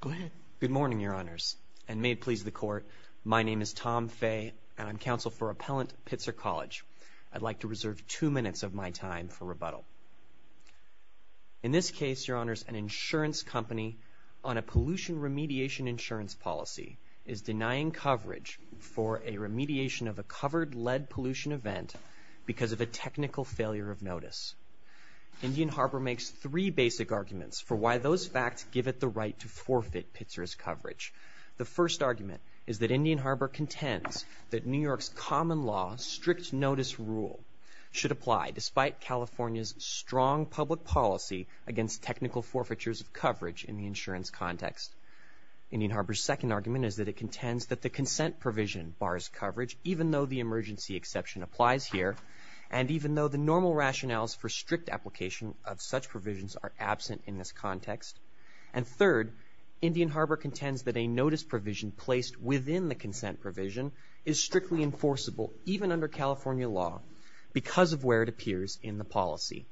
Go ahead. Good morning, Your Honors, and may it please the Court, my name is Tom Fay, and I'm counsel for Appellant Pitzer College. I'd like to reserve two minutes of my time for rebuttal. In this case, Your Honors, an insurance company on a pollution remediation insurance policy is denying coverage for a remediation of a covered lead pollution event because of a technical failure of notice. Indian Harbor makes three basic arguments for why those facts give it the right to forfeit Pitzer's coverage. The first argument is that Indian Harbor contends that New York's common law strict notice rule should apply despite California's strong public policy against technical forfeitures of coverage in the insurance context. Indian Harbor's second argument is that it contends that the consent provision bars coverage, even though the emergency exception applies here, and even though the normal rationales for strict application of such provisions are absent in this context. And third, Indian Harbor contends that a notice provision placed within the consent provision is strictly enforceable even under California law because of where it appears in the policy.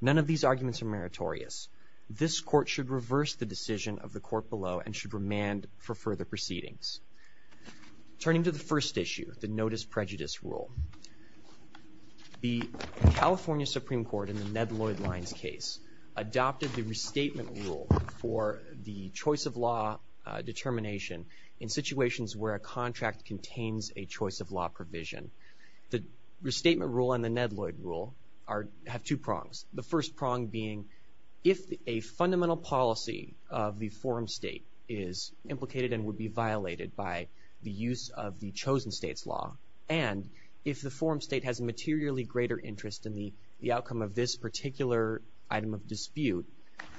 None of these arguments are meritorious. This Court should reverse the decision of the Court below and should remand for further proceedings. Turning to the first issue, the notice prejudice rule. The California Supreme Court in the Ned Lloyd Lyons case adopted the restatement rule for the choice of law determination in situations where a contract contains a choice of law provision. The restatement rule and the Ned Lloyd rule have two prongs. The first prong being if a fundamental policy of the forum state is implicated and would be violated by the use of the chosen state's law, and if the forum state has a materially greater interest in the outcome of this particular item of dispute,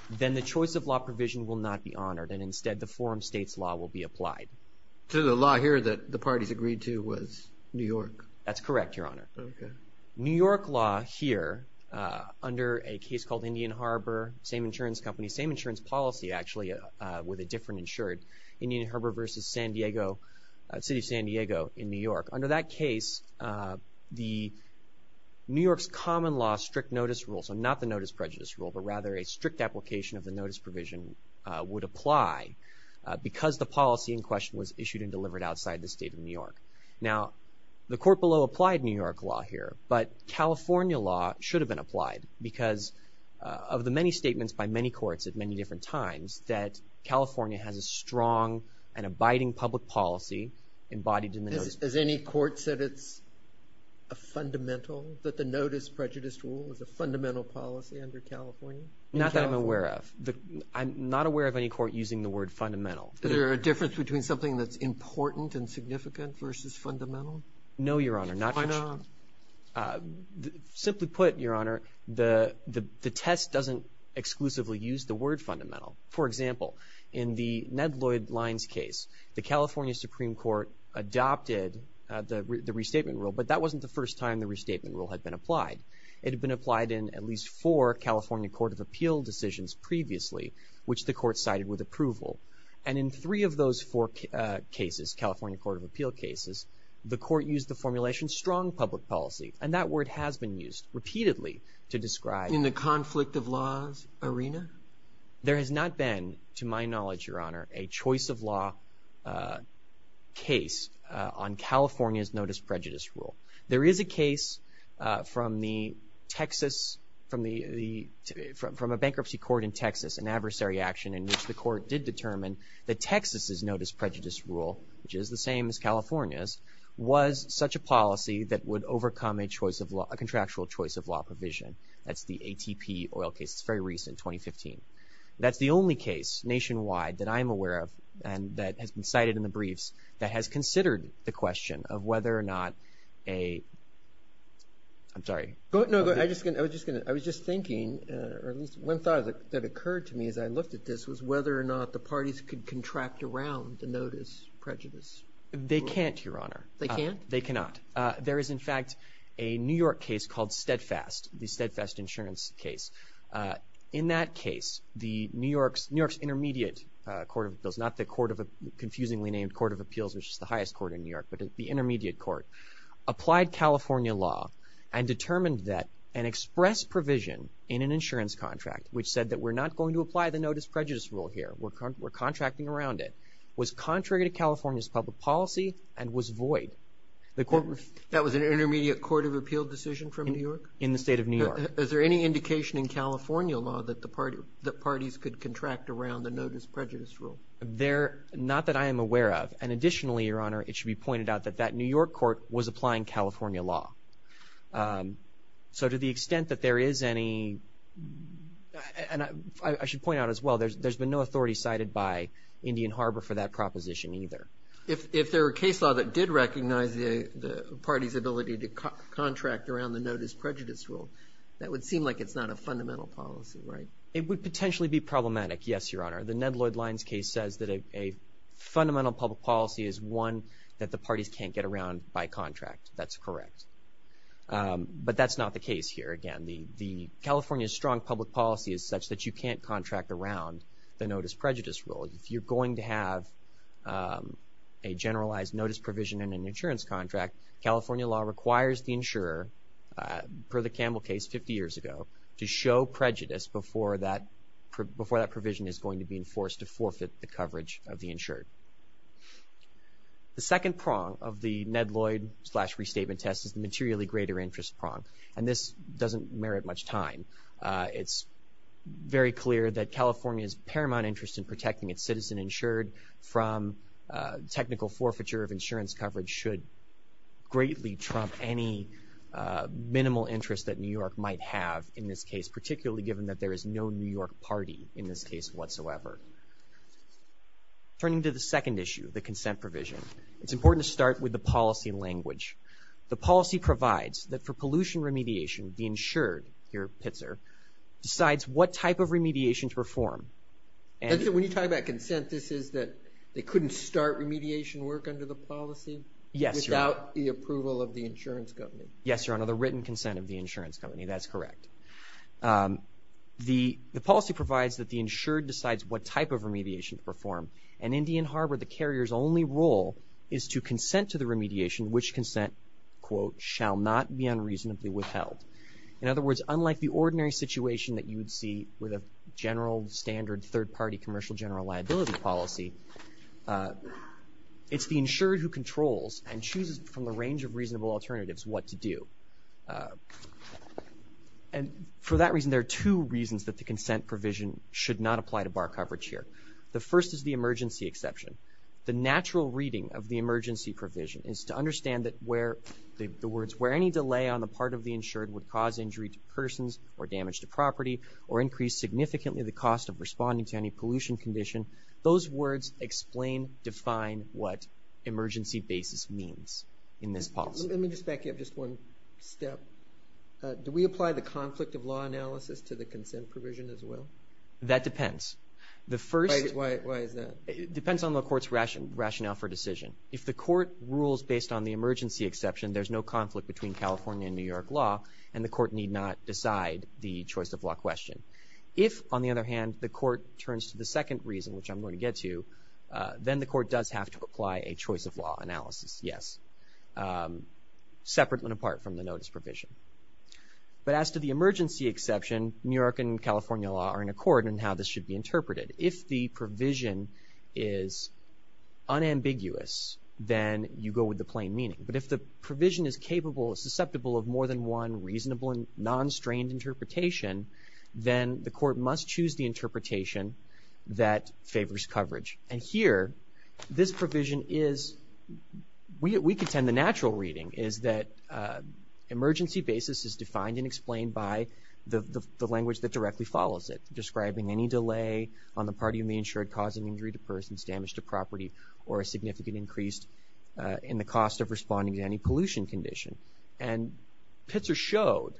then the choice of law provision will not be honored and instead the forum state's law will be applied. So the law here that the parties agreed to was New York? That's correct, Your Honor. Okay. New York law here under a case called Indian Harbor, same insurance company, same insurance policy actually with a different insured, Indian Harbor versus San Diego, city of San Diego in New York. Under that case, New York's common law strict notice rule, so not the notice prejudice rule, but rather a strict application of the notice provision would apply because the policy in question was issued and delivered outside the state of New York. Now, the court below applied New York law here, but California law should have been applied because of the many statements by many courts at many different times that California has a strong and abiding public policy embodied in the notice. Has any court said it's a fundamental, that the notice prejudice rule is a fundamental policy under California? Not that I'm aware of. I'm not aware of any court using the word fundamental. Is there a difference between something that's important and significant versus fundamental? No, Your Honor. Why not? Simply put, Your Honor, the test doesn't exclusively use the word fundamental. For example, in the Ned Lloyd Lyons case, the California Supreme Court adopted the restatement rule, but that wasn't the first time the restatement rule had been applied. It had been applied in at least four California Court of Appeal decisions previously, which the court cited with approval. And in three of those four cases, California Court of Appeal cases, the court used the formulation strong public policy, and that word has been used repeatedly to describe. In the conflict of laws arena? There has not been, to my knowledge, Your Honor, a choice of law case on California's notice prejudice rule. There is a case from a bankruptcy court in Texas, an adversary action in which the court did determine that Texas' notice prejudice rule, which is the same as California's, was such a policy that would overcome a contractual choice of law provision. That's the ATP oil case. It's very recent, 2015. That's the only case nationwide that I'm aware of and that has been cited in the briefs that has considered the question of whether or not a, I'm sorry. No, I was just thinking, or at least one thought that occurred to me as I looked at this was whether or not the parties could contract around the notice prejudice rule. They can't, Your Honor. They can't? They cannot. There is, in fact, a New York case called Steadfast, the Steadfast insurance case. In that case, New York's intermediate court of appeals, not the confusingly named court of appeals, which is the highest court in New York, but the intermediate court, applied California law and determined that an express provision in an insurance contract, which said that we're not going to apply the notice prejudice rule here, we're contracting around it, was contrary to California's public policy and was void. That was an intermediate court of appeal decision from New York? In the state of New York. Is there any indication in California law that the parties could contract around the notice prejudice rule? There, not that I am aware of, and additionally, Your Honor, it should be pointed out that that New York court was applying California law. So to the extent that there is any, and I should point out as well, there's been no authority cited by Indian Harbor for that proposition either. If there were a case law that did recognize the party's ability to contract around the notice prejudice rule, that would seem like it's not a fundamental policy, right? It would potentially be problematic, yes, Your Honor. The Ned Lloyd Lyons case says that a fundamental public policy is one that the parties can't get around by contract. That's correct. But that's not the case here. Again, California's strong public policy is such that you can't contract around the notice prejudice rule. If you're going to have a generalized notice provision in an insurance contract, California law requires the insurer, per the Campbell case 50 years ago, to show prejudice before that provision is going to be enforced to forfeit the coverage of the insured. The second prong of the Ned Lloyd restatement test is the materially greater interest prong, and this doesn't merit much time. It's very clear that California's paramount interest in protecting its citizen insured from technical forfeiture of insurance coverage should greatly trump any minimal interest that New York might have in this case, particularly given that there is no New York party in this case whatsoever. Turning to the second issue, the consent provision, it's important to start with the policy language. The policy provides that for pollution remediation, the insured, here, Pitzer, decides what type of remediation to perform. And so when you talk about consent, this is that they couldn't start remediation work under the policy? Yes, Your Honor. Without the approval of the insurance company? Yes, Your Honor, the written consent of the insurance company. That's correct. The policy provides that the insured decides what type of remediation to perform, and Indian Harbor, the carrier's only role is to consent to the remediation, which consent, quote, shall not be unreasonably withheld. In other words, unlike the ordinary situation that you would see with a general standard third-party commercial general liability policy, it's the insured who controls and chooses from a range of reasonable alternatives what to do. And for that reason, there are two reasons that the consent provision should not apply to bar coverage here. The first is the emergency exception. The natural reading of the emergency provision is to understand that where the words, where any delay on the part of the insured would cause injury to persons or damage to property or increase significantly the cost of responding to any pollution condition, those words explain, define what emergency basis means in this policy. Let me just back you up just one step. Do we apply the conflict of law analysis to the consent provision as well? That depends. Why is that? It depends on the court's rationale for decision. If the court rules based on the emergency exception, there's no conflict between California and New York law, and the court need not decide the choice of law question. If, on the other hand, the court turns to the second reason, which I'm going to get to, then the court does have to apply a choice of law analysis. Yes. Separate and apart from the notice provision. But as to the emergency exception, New York and California law are in accord in how this should be interpreted. If the provision is unambiguous, then you go with the plain meaning. But if the provision is capable, susceptible of more than one reasonable and non-strained interpretation, then the court must choose the interpretation that favors coverage. And here, this provision is, we contend the natural reading is that emergency basis is defined and explained by the language that directly follows it, describing any delay on the part of you may ensure causing injury to persons, damage to property, or a significant increase in the cost of responding to any pollution condition. And Pitzer showed,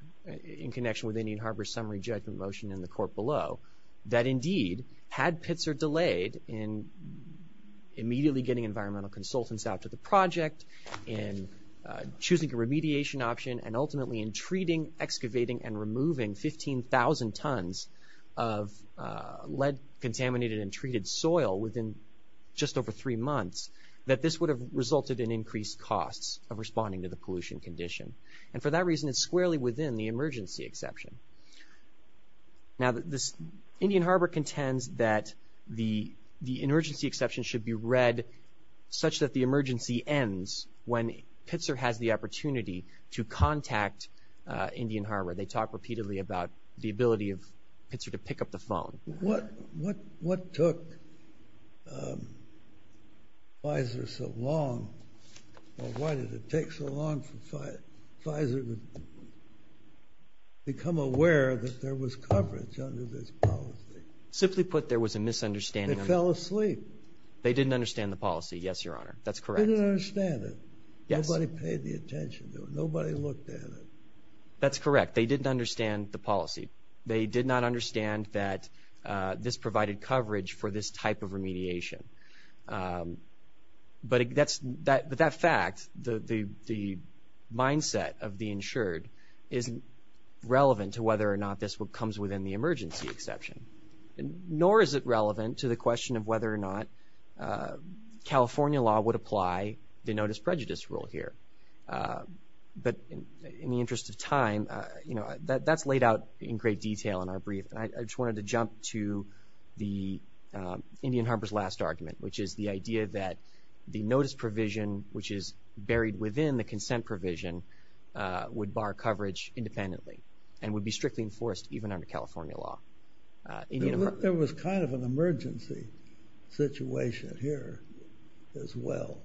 in connection with Indian Harbor's summary judgment motion in the court below, that indeed, had Pitzer delayed in immediately getting environmental consultants out to the project, in choosing a remediation option, and ultimately in treating, excavating, and removing 15,000 tons of lead-contaminated and treated soil within just over three months, that this would have resulted in increased costs of responding to the pollution condition. And for that reason, it's squarely within the emergency exception. Now, Indian Harbor contends that the emergency exception should be read such that the emergency ends when Pitzer has the opportunity to contact Indian Harbor. They talk repeatedly about the ability of Pitzer to pick up the phone. What took Pfizer so long? Or why did it take so long for Pfizer to become aware that there was coverage under this policy? Simply put, there was a misunderstanding. They fell asleep. They didn't understand the policy, yes, Your Honor. That's correct. They didn't understand it. Nobody paid the attention to it. Nobody looked at it. That's correct. They didn't understand the policy. They did not understand that this provided coverage for this type of remediation. But that fact, the mindset of the insured, isn't relevant to whether or not this comes within the emergency exception, nor is it relevant to the question of whether or not California law would apply the notice prejudice rule here. But in the interest of time, that's laid out in great detail in our brief. I just wanted to jump to the Indian Harbor's last argument, which is the idea that the notice provision, which is buried within the consent provision, would bar coverage independently and would be strictly enforced even under California law. There was kind of an emergency situation here as well.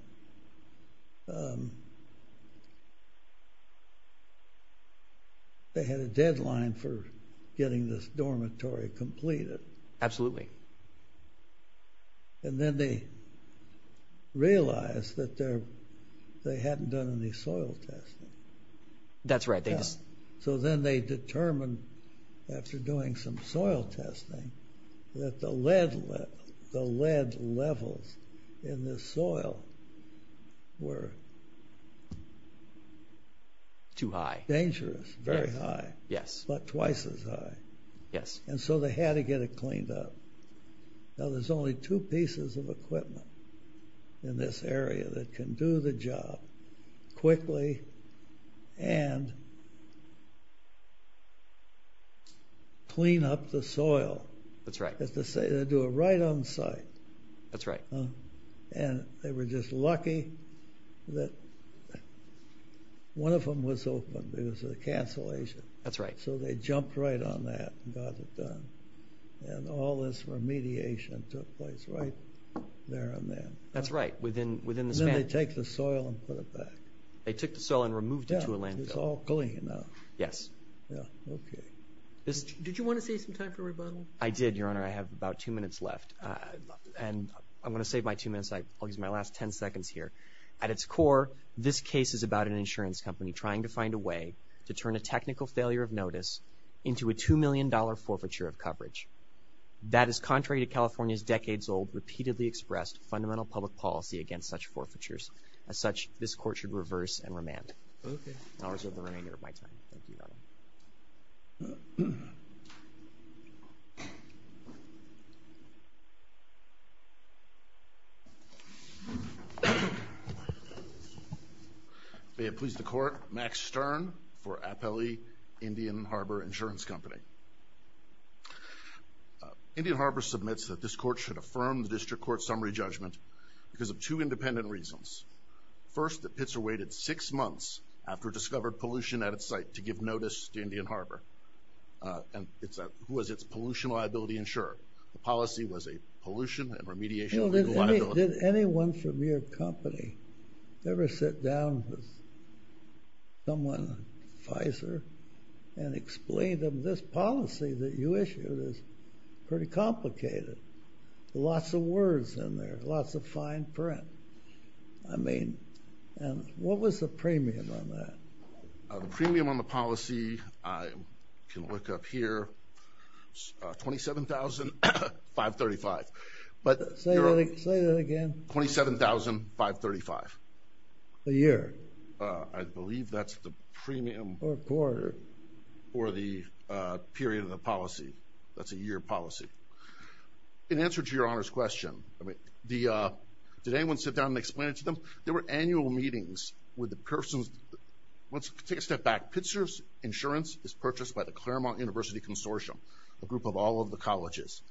They had a deadline for getting this dormitory completed. Absolutely. And then they realized that they hadn't done any soil testing. That's right. So then they determined, after doing some soil testing, that the lead levels in the soil were dangerous. Too high. Very high. Yes. About twice as high. Yes. And so they had to get it cleaned up. Now there's only two pieces of equipment in this area that can do the job quickly and clean up the soil. That's right. That's to say they do it right on site. That's right. And they were just lucky that one of them was open because of the cancellation. That's right. So they jumped right on that and got it done. And all this remediation took place right there and then. That's right. And then they take the soil and put it back. They took the soil and removed it to a landfill. It's all clean now. Yes. Okay. Did you want to save some time for rebuttal? I did, Your Honor. I have about two minutes left. And I'm going to save my two minutes. I'll use my last ten seconds here. At its core, this case is about an insurance company trying to find a way to turn a technical failure of notice into a $2 million forfeiture of coverage. That is contrary to California's decades-old, repeatedly expressed fundamental public policy against such forfeitures. As such, this Court should reverse and remand. Okay. And I'll reserve the remainder of my time. Thank you, Your Honor. May it please the Court. Max Stern for Appellee Indian Harbor Insurance Company. Indian Harbor submits that this Court should affirm the District Court's summary judgment because of two independent reasons. First, that Pitzer waited six months after it discovered pollution at its site to give notice to Indian Harbor. And who was its pollution liability insurer? The policy was a pollution and remediation legal liability. Did anyone from your company ever sit down with someone, Pfizer, and explain to them this policy that you issued is pretty complicated? Lots of words in there, lots of fine print. I mean, what was the premium on that? The premium on the policy, I can look up here, $27,535. Say that again. $27,535. A year. I believe that's the premium. Or a quarter. Or the period of the policy. That's a year policy. In answer to Your Honor's question, did anyone sit down and explain it to them? There were annual meetings with the persons. Let's take a step back. Pitzer's insurance is purchased by the Claremont University Consortium, a group of all of the colleges.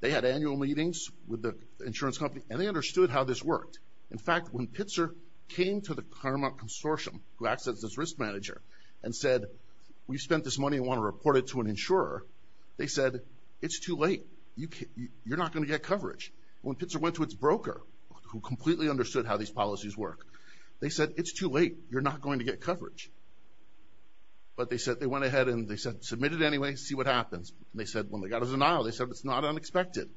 They had annual meetings with the insurance company, and they understood how this worked. In fact, when Pitzer came to the Claremont Consortium, who acts as its risk manager, and said, we spent this money and want to report it to an insurer. They said, it's too late. You're not going to get coverage. When Pitzer went to its broker, who completely understood how these policies work, they said, it's too late. You're not going to get coverage. But they went ahead and they said, submit it anyway, see what happens. They said, when they got his denial, they said, it's not unexpected,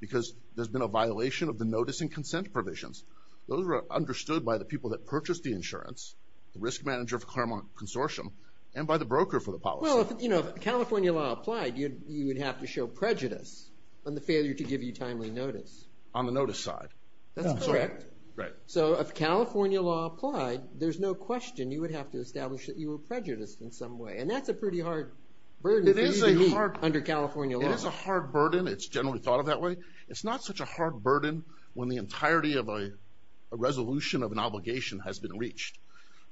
because there's been a violation of the notice and consent provisions. Those were understood by the people that purchased the insurance, the risk manager of the Claremont Consortium, and by the broker for the policy. Well, if California law applied, you would have to show prejudice on the failure to give you timely notice. On the notice side. That's correct. Right. So if California law applied, there's no question you would have to establish that you were prejudiced in some way. And that's a pretty hard burden for you to meet under California law. It is a hard burden. It's generally thought of that way. It's not such a hard burden when the entirety of a resolution of an obligation has been reached.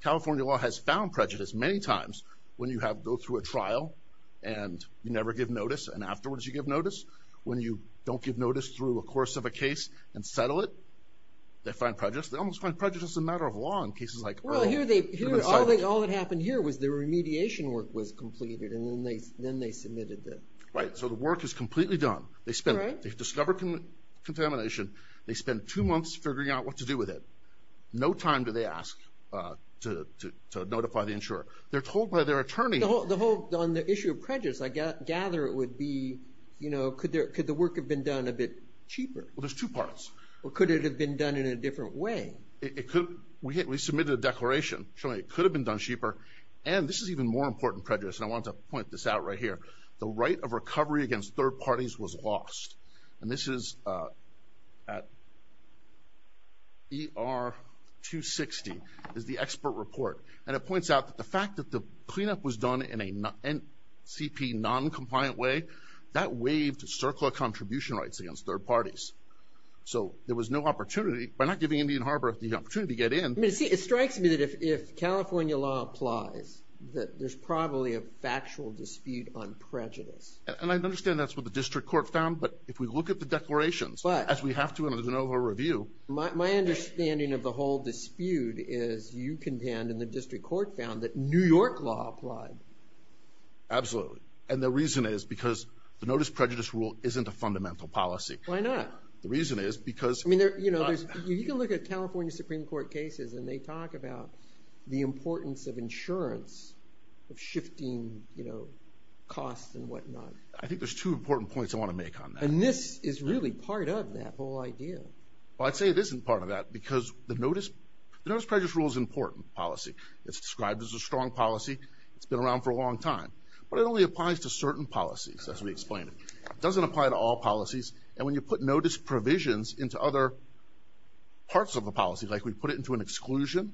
California law has found prejudice many times when you go through a trial and you never give notice, and afterwards you give notice. When you don't give notice through a course of a case and settle it, they find prejudice. They almost find prejudice a matter of law in cases like Earl. Well, all that happened here was the remediation work was completed, and then they submitted it. Right. So the work is completely done. They've discovered contamination. They spent two months figuring out what to do with it. No time do they ask to notify the insurer. They're told by their attorney. On the issue of prejudice, I gather it would be, you know, could the work have been done a bit cheaper? Well, there's two parts. Or could it have been done in a different way? We submitted a declaration showing it could have been done cheaper. And this is even more important prejudice, and I want to point this out right here. The right of recovery against third parties was lost. And this is at ER 260 is the expert report. And it points out that the fact that the cleanup was done in a NCP noncompliant way, that waived CERCLA contribution rights against third parties. So there was no opportunity. By not giving Indian Harbor the opportunity to get in. It strikes me that if California law applies, that there's probably a factual dispute on prejudice. And I understand that's what the district court found. But if we look at the declarations, as we have to in a de novo review. My understanding of the whole dispute is you contend, and the district court found, that New York law applied. Absolutely. And the reason is because the notice prejudice rule isn't a fundamental policy. Why not? The reason is because. I mean, you can look at California Supreme Court cases, and they talk about the importance of insurance, of shifting costs and whatnot. I think there's two important points I want to make on that. And this is really part of that whole idea. Well, I'd say it isn't part of that because the notice prejudice rule is an important policy. It's described as a strong policy. It's been around for a long time. But it only applies to certain policies, as we explained. It doesn't apply to all policies. And when you put notice provisions into other parts of the policy, like we put it into an exclusion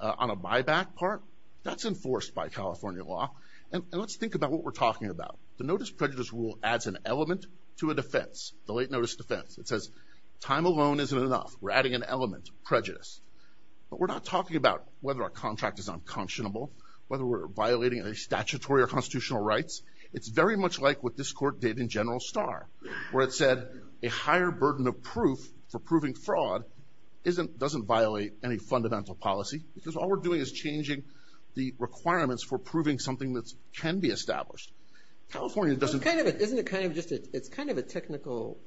on a buyback part, that's enforced by California law. And let's think about what we're talking about. The notice prejudice rule adds an element to a defense, the late notice defense. It says time alone isn't enough. We're adding an element, prejudice. But we're not talking about whether our contract is unconscionable, whether we're violating any statutory or constitutional rights. It's very much like what this court did in General Starr, where it said a higher burden of proof for proving fraud doesn't violate any fundamental policy because all we're doing is changing the requirements for proving something that can be established. California doesn't. It's kind of a technical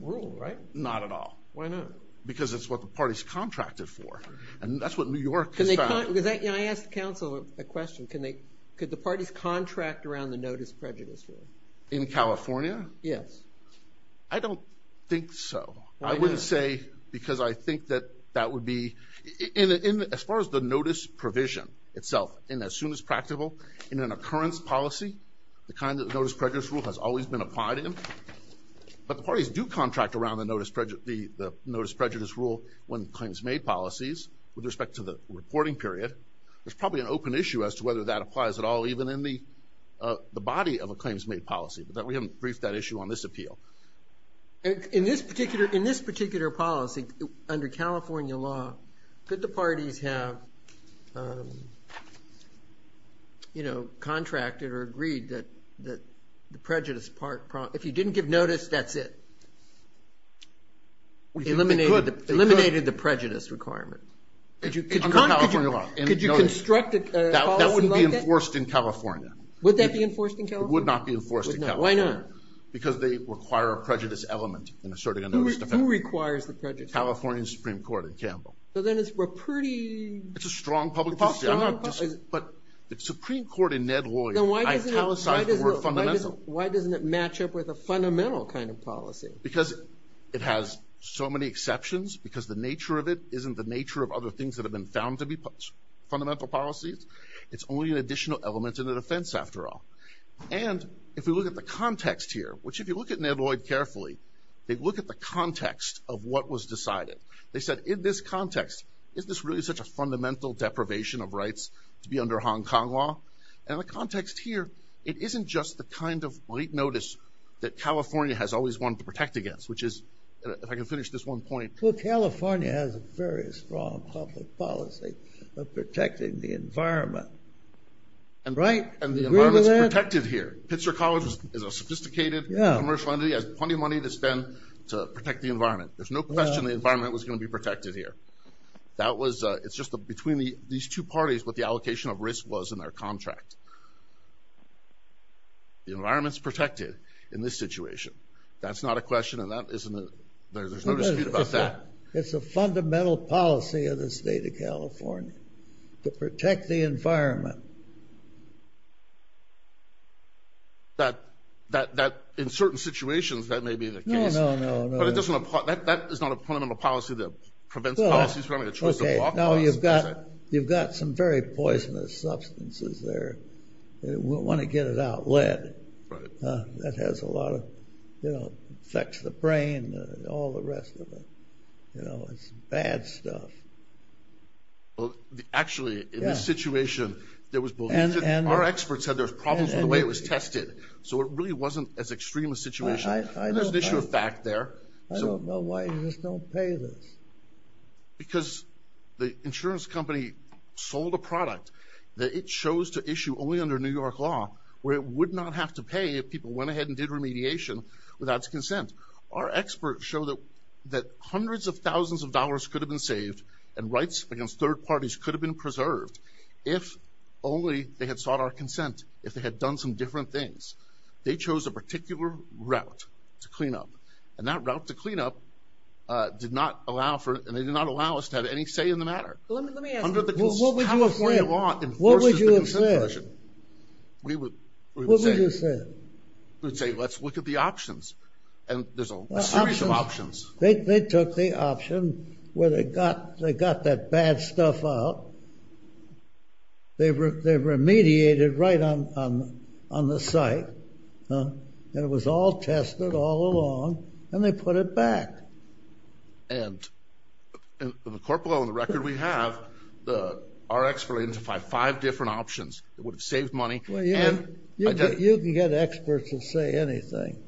rule, right? Not at all. Why not? Because it's what the parties contracted for. And that's what New York has done. I asked counsel a question. Could the parties contract around the notice prejudice rule? In California? Yes. I don't think so. Why not? I wouldn't say because I think that that would be – as far as the notice provision itself, in a soon as practical, in an occurrence policy, the kind of notice prejudice rule has always been applied in. But the parties do contract around the notice prejudice rule when claims made policies with respect to the reporting period. There's probably an open issue as to whether that applies at all, even in the body of a claims made policy. But we haven't briefed that issue on this appeal. In this particular policy, under California law, could the parties have contracted or agreed that the prejudice part – if you didn't give notice, that's it? We think they could. Eliminated the prejudice requirement. Under California law. Could you construct a policy like that? That wouldn't be enforced in California. Would that be enforced in California? It would not be enforced in California. Why not? Because they require a prejudice element in asserting a notice. Who requires the prejudice element? California Supreme Court in Campbell. So then it's a pretty – It's a strong public policy. But the Supreme Court in Ned Lloyd italicized the word fundamental. Why doesn't it match up with a fundamental kind of policy? Because it has so many exceptions, because the nature of it isn't the nature of other things that have been found to be fundamental policies. It's only an additional element in the defense, after all. And if we look at the context here, which if you look at Ned Lloyd carefully, they look at the context of what was decided. They said, in this context, is this really such a fundamental deprivation of rights to be under Hong Kong law? And the context here, it isn't just the kind of late notice that California has always wanted to protect against, which is – if I can finish this one point. Well, California has a very strong public policy of protecting the environment. And the environment is protected here. Pitzer College is a sophisticated commercial entity. It has plenty of money to spend to protect the environment. There's no question the environment was going to be protected here. That was – it's just between these two parties what the allocation of risk was in their contract. The environment's protected in this situation. That's not a question, and that isn't a – there's no dispute about that. It's a fundamental policy of the state of California to protect the environment. That, in certain situations, that may be the case. No, no, no, no. But it doesn't – that is not a fundamental policy that prevents policies from having a choice of law. No, you've got some very poisonous substances there. We want to get it out. Lead. That has a lot of – it affects the brain and all the rest of it. It's bad stuff. Actually, in this situation, there was – our experts said there was problems with the way it was tested. So it really wasn't as extreme a situation. There's an issue of fact there. I don't know why you just don't pay this. Because the insurance company sold a product that it chose to issue only under New York law, where it would not have to pay if people went ahead and did remediation without its consent. Our experts show that hundreds of thousands of dollars could have been saved, and rights against third parties could have been preserved if only they had sought our consent, if they had done some different things. They chose a particular route to clean up, and that route to clean up did not allow for – and they did not allow us to have any say in the matter. Let me ask you. What would you have said? What would you have said? We would say – What would you have said? We would say, let's look at the options. And there's a series of options. They took the option where they got that bad stuff out. They remediated right on the site. And it was all tested all along. And they put it back. And, in the court below, in the record we have, our expert identified five different options that would have saved money. Well, yeah. You can get experts that say anything.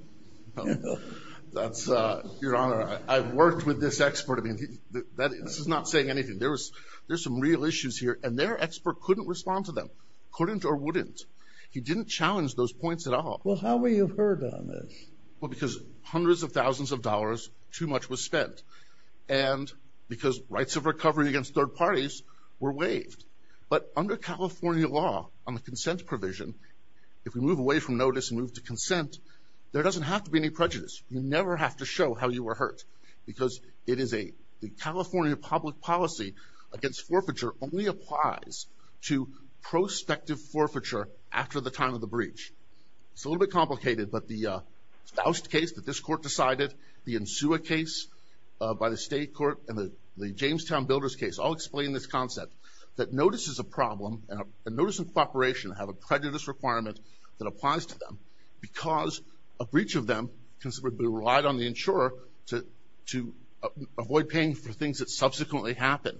Your Honor, I've worked with this expert. I mean, this is not saying anything. There's some real issues here. And their expert couldn't respond to them, couldn't or wouldn't. He didn't challenge those points at all. Well, how were you hurt on this? Well, because hundreds of thousands of dollars, too much was spent. And because rights of recovery against third parties were waived. But under California law on the consent provision, if we move away from notice and move to consent, there doesn't have to be any prejudice. You never have to show how you were hurt because it is a – the California public policy against forfeiture only applies to prospective forfeiture after the time of the breach. It's a little bit complicated, but the Faust case that this court decided, the Insua case by the state court, and the Jamestown Builders case all explain this concept that notice is a problem, and notice and cooperation have a prejudice requirement that applies to them because a breach of them can be relied on the insurer to avoid paying for things that subsequently happen.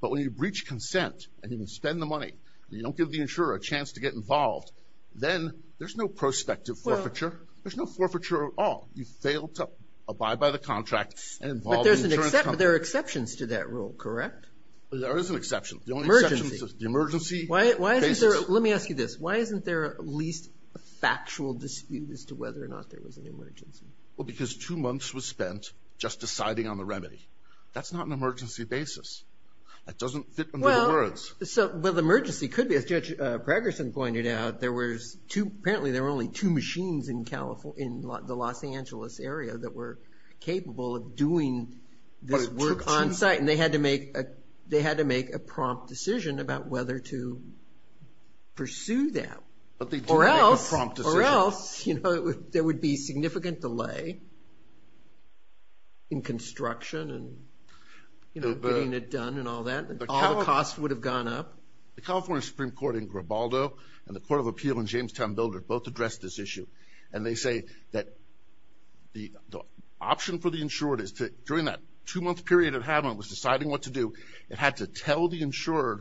But when you breach consent and you spend the money and you don't give the insurer a chance to get involved, then there's no prospective forfeiture. There's no forfeiture at all. You fail to abide by the contract and involve the insurance company. But there are exceptions to that rule, correct? There is an exception. Emergency. The only exception is the emergency basis. Let me ask you this. Why isn't there at least a factual dispute as to whether or not there was an emergency? Well, because two months was spent just deciding on the remedy. That's not an emergency basis. That doesn't fit under the words. Well, the emergency could be. As Judge Pragerson pointed out, apparently there were only two machines in the Los Angeles area that were capable of doing this work on site, and they had to make a prompt decision about whether to pursue that. But they did make a prompt decision. Or else there would be significant delay in construction and getting it done and all that. All the costs would have gone up. The California Supreme Court in Grabaldo and the Court of Appeal in Jamestown Builder both addressed this issue, and they say that the option for the insured is to, during that two-month period it was deciding what to do, it had to tell the insurer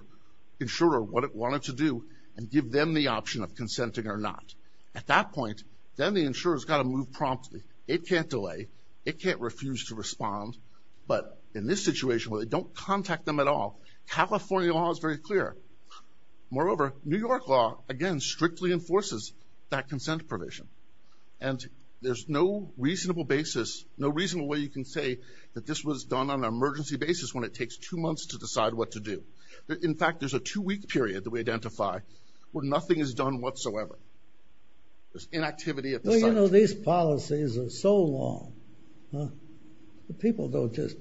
what it wanted to do and give them the option of consenting or not. At that point, then the insurer's got to move promptly. It can't delay. It can't refuse to respond. But in this situation where they don't contact them at all, California law is very clear. Moreover, New York law, again, strictly enforces that consent provision. And there's no reasonable basis, no reasonable way you can say that this was done on an emergency basis when it takes two months to decide what to do. In fact, there's a two-week period that we identify where nothing is done whatsoever. There's inactivity at the site. You know, these policies are so long. The people don't just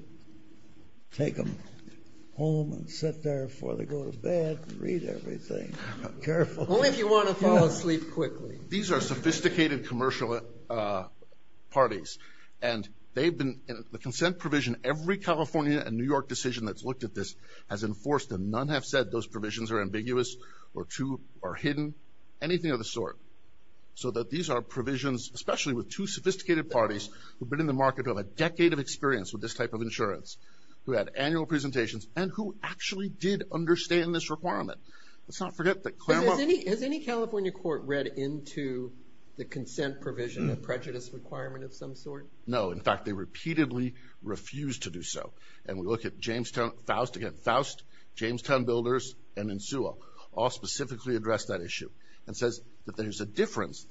take them home and sit there before they go to bed and read everything carefully. Only if you want to fall asleep quickly. These are sophisticated commercial parties, and they've been in the consent provision. Every California and New York decision that's looked at this has enforced them. None have said those provisions are ambiguous or hidden, anything of the sort. So that these are provisions, especially with two sophisticated parties who have been in the market, who have a decade of experience with this type of insurance, who had annual presentations, and who actually did understand this requirement. Let's not forget that Claremont… But has any California court read into the consent provision, the prejudice requirement of some sort? No. In fact, they repeatedly refused to do so. And we look at Jamestown, Faust, again, Faust, Jamestown builders, and in Sewell, all specifically addressed that issue and says that there's a difference,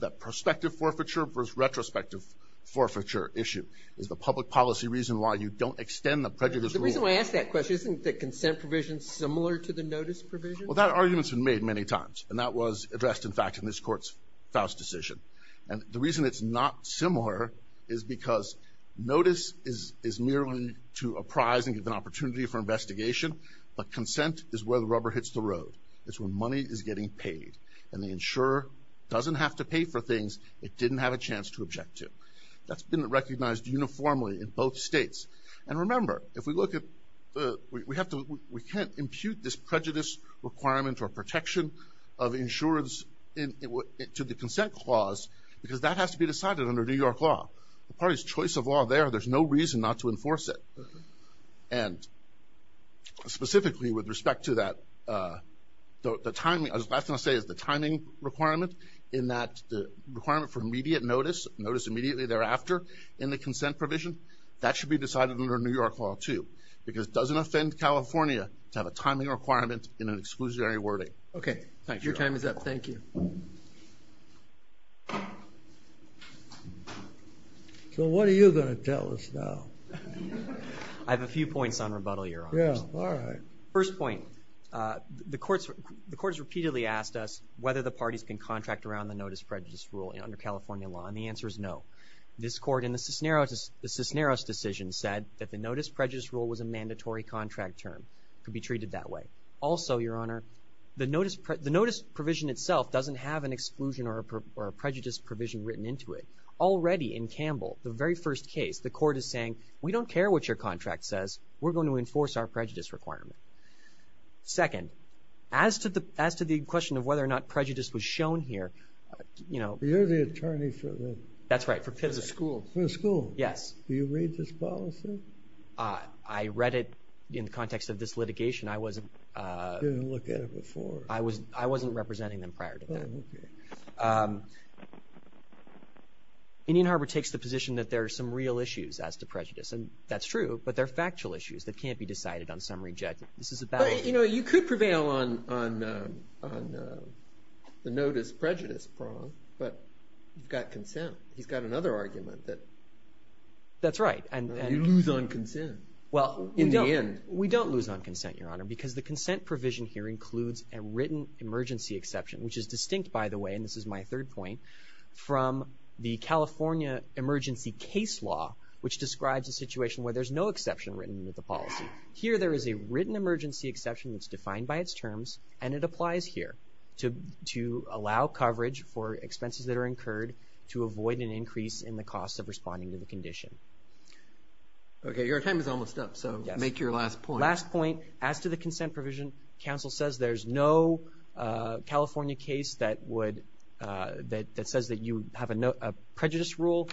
that prospective forfeiture versus retrospective forfeiture issue is the public policy reason why you don't extend the prejudice rule. The reason I ask that question, isn't the consent provision similar to the notice provision? Well, that argument's been made many times, and that was addressed, in fact, in this court's Faust decision. And the reason it's not similar is because notice is merely to apprise and give an opportunity for investigation, but consent is where the rubber hits the road. It's where money is getting paid, and the insurer doesn't have to pay for things it didn't have a chance to object to. That's been recognized uniformly in both states. And remember, if we look at… We can't impute this prejudice requirement or protection of insurance to the consent clause because that has to be decided under New York law. The party's choice of law there, there's no reason not to enforce it. And specifically with respect to that, the timing, I was last going to say, is the timing requirement in that the requirement for immediate notice, notice immediately thereafter in the consent provision, that should be decided under New York law too because it doesn't offend California to have a timing requirement in an exclusionary wording. Okay, your time is up. Thank you. So what are you going to tell us now? I have a few points on rebuttal, Your Honor. Yeah, all right. First point, the court has repeatedly asked us whether the parties can contract around the notice prejudice rule under California law, and the answer is no. This court in the Cisneros decision said that the notice prejudice rule was a mandatory contract term. It could be treated that way. Also, Your Honor, the notice provision itself doesn't have an exclusion or a prejudice provision written into it. Already in Campbell, the very first case, the court is saying, we don't care what your contract says. We're going to enforce our prejudice requirement. Second, as to the question of whether or not prejudice was shown here, you know... You're the attorney for the... That's right, for the school. For the school. Yes. Do you read this policy? I read it in the context of this litigation. I wasn't... You didn't look at it before. I wasn't representing them prior to that. Oh, okay. Indian Harbor takes the position that there are some real issues as to prejudice, and that's true, but they're factual issues that can't be decided on summary judgment. This is about... But, you know, you could prevail on the notice prejudice prong, but you've got consent. He's got another argument that... That's right, and... You lose on consent in the end. We don't lose on consent, Your Honor, because the consent provision here includes a written emergency exception, which is distinct, by the way, and this is my third point, from the California emergency case law, which describes a situation where there's no exception written into the policy. Here there is a written emergency exception that's defined by its terms, and it applies here to allow coverage for expenses that are incurred to avoid an increase in the cost of responding to the condition. Okay, your time is almost up, so make your last point. As to the consent provision, counsel says there's no California case that says that you have a prejudice rule.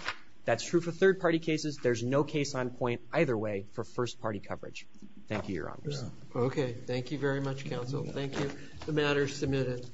That's true for third-party cases. There's no case on point either way for first-party coverage. Thank you, Your Honors. Okay, thank you very much, counsel. Thank you. The matter is submitted.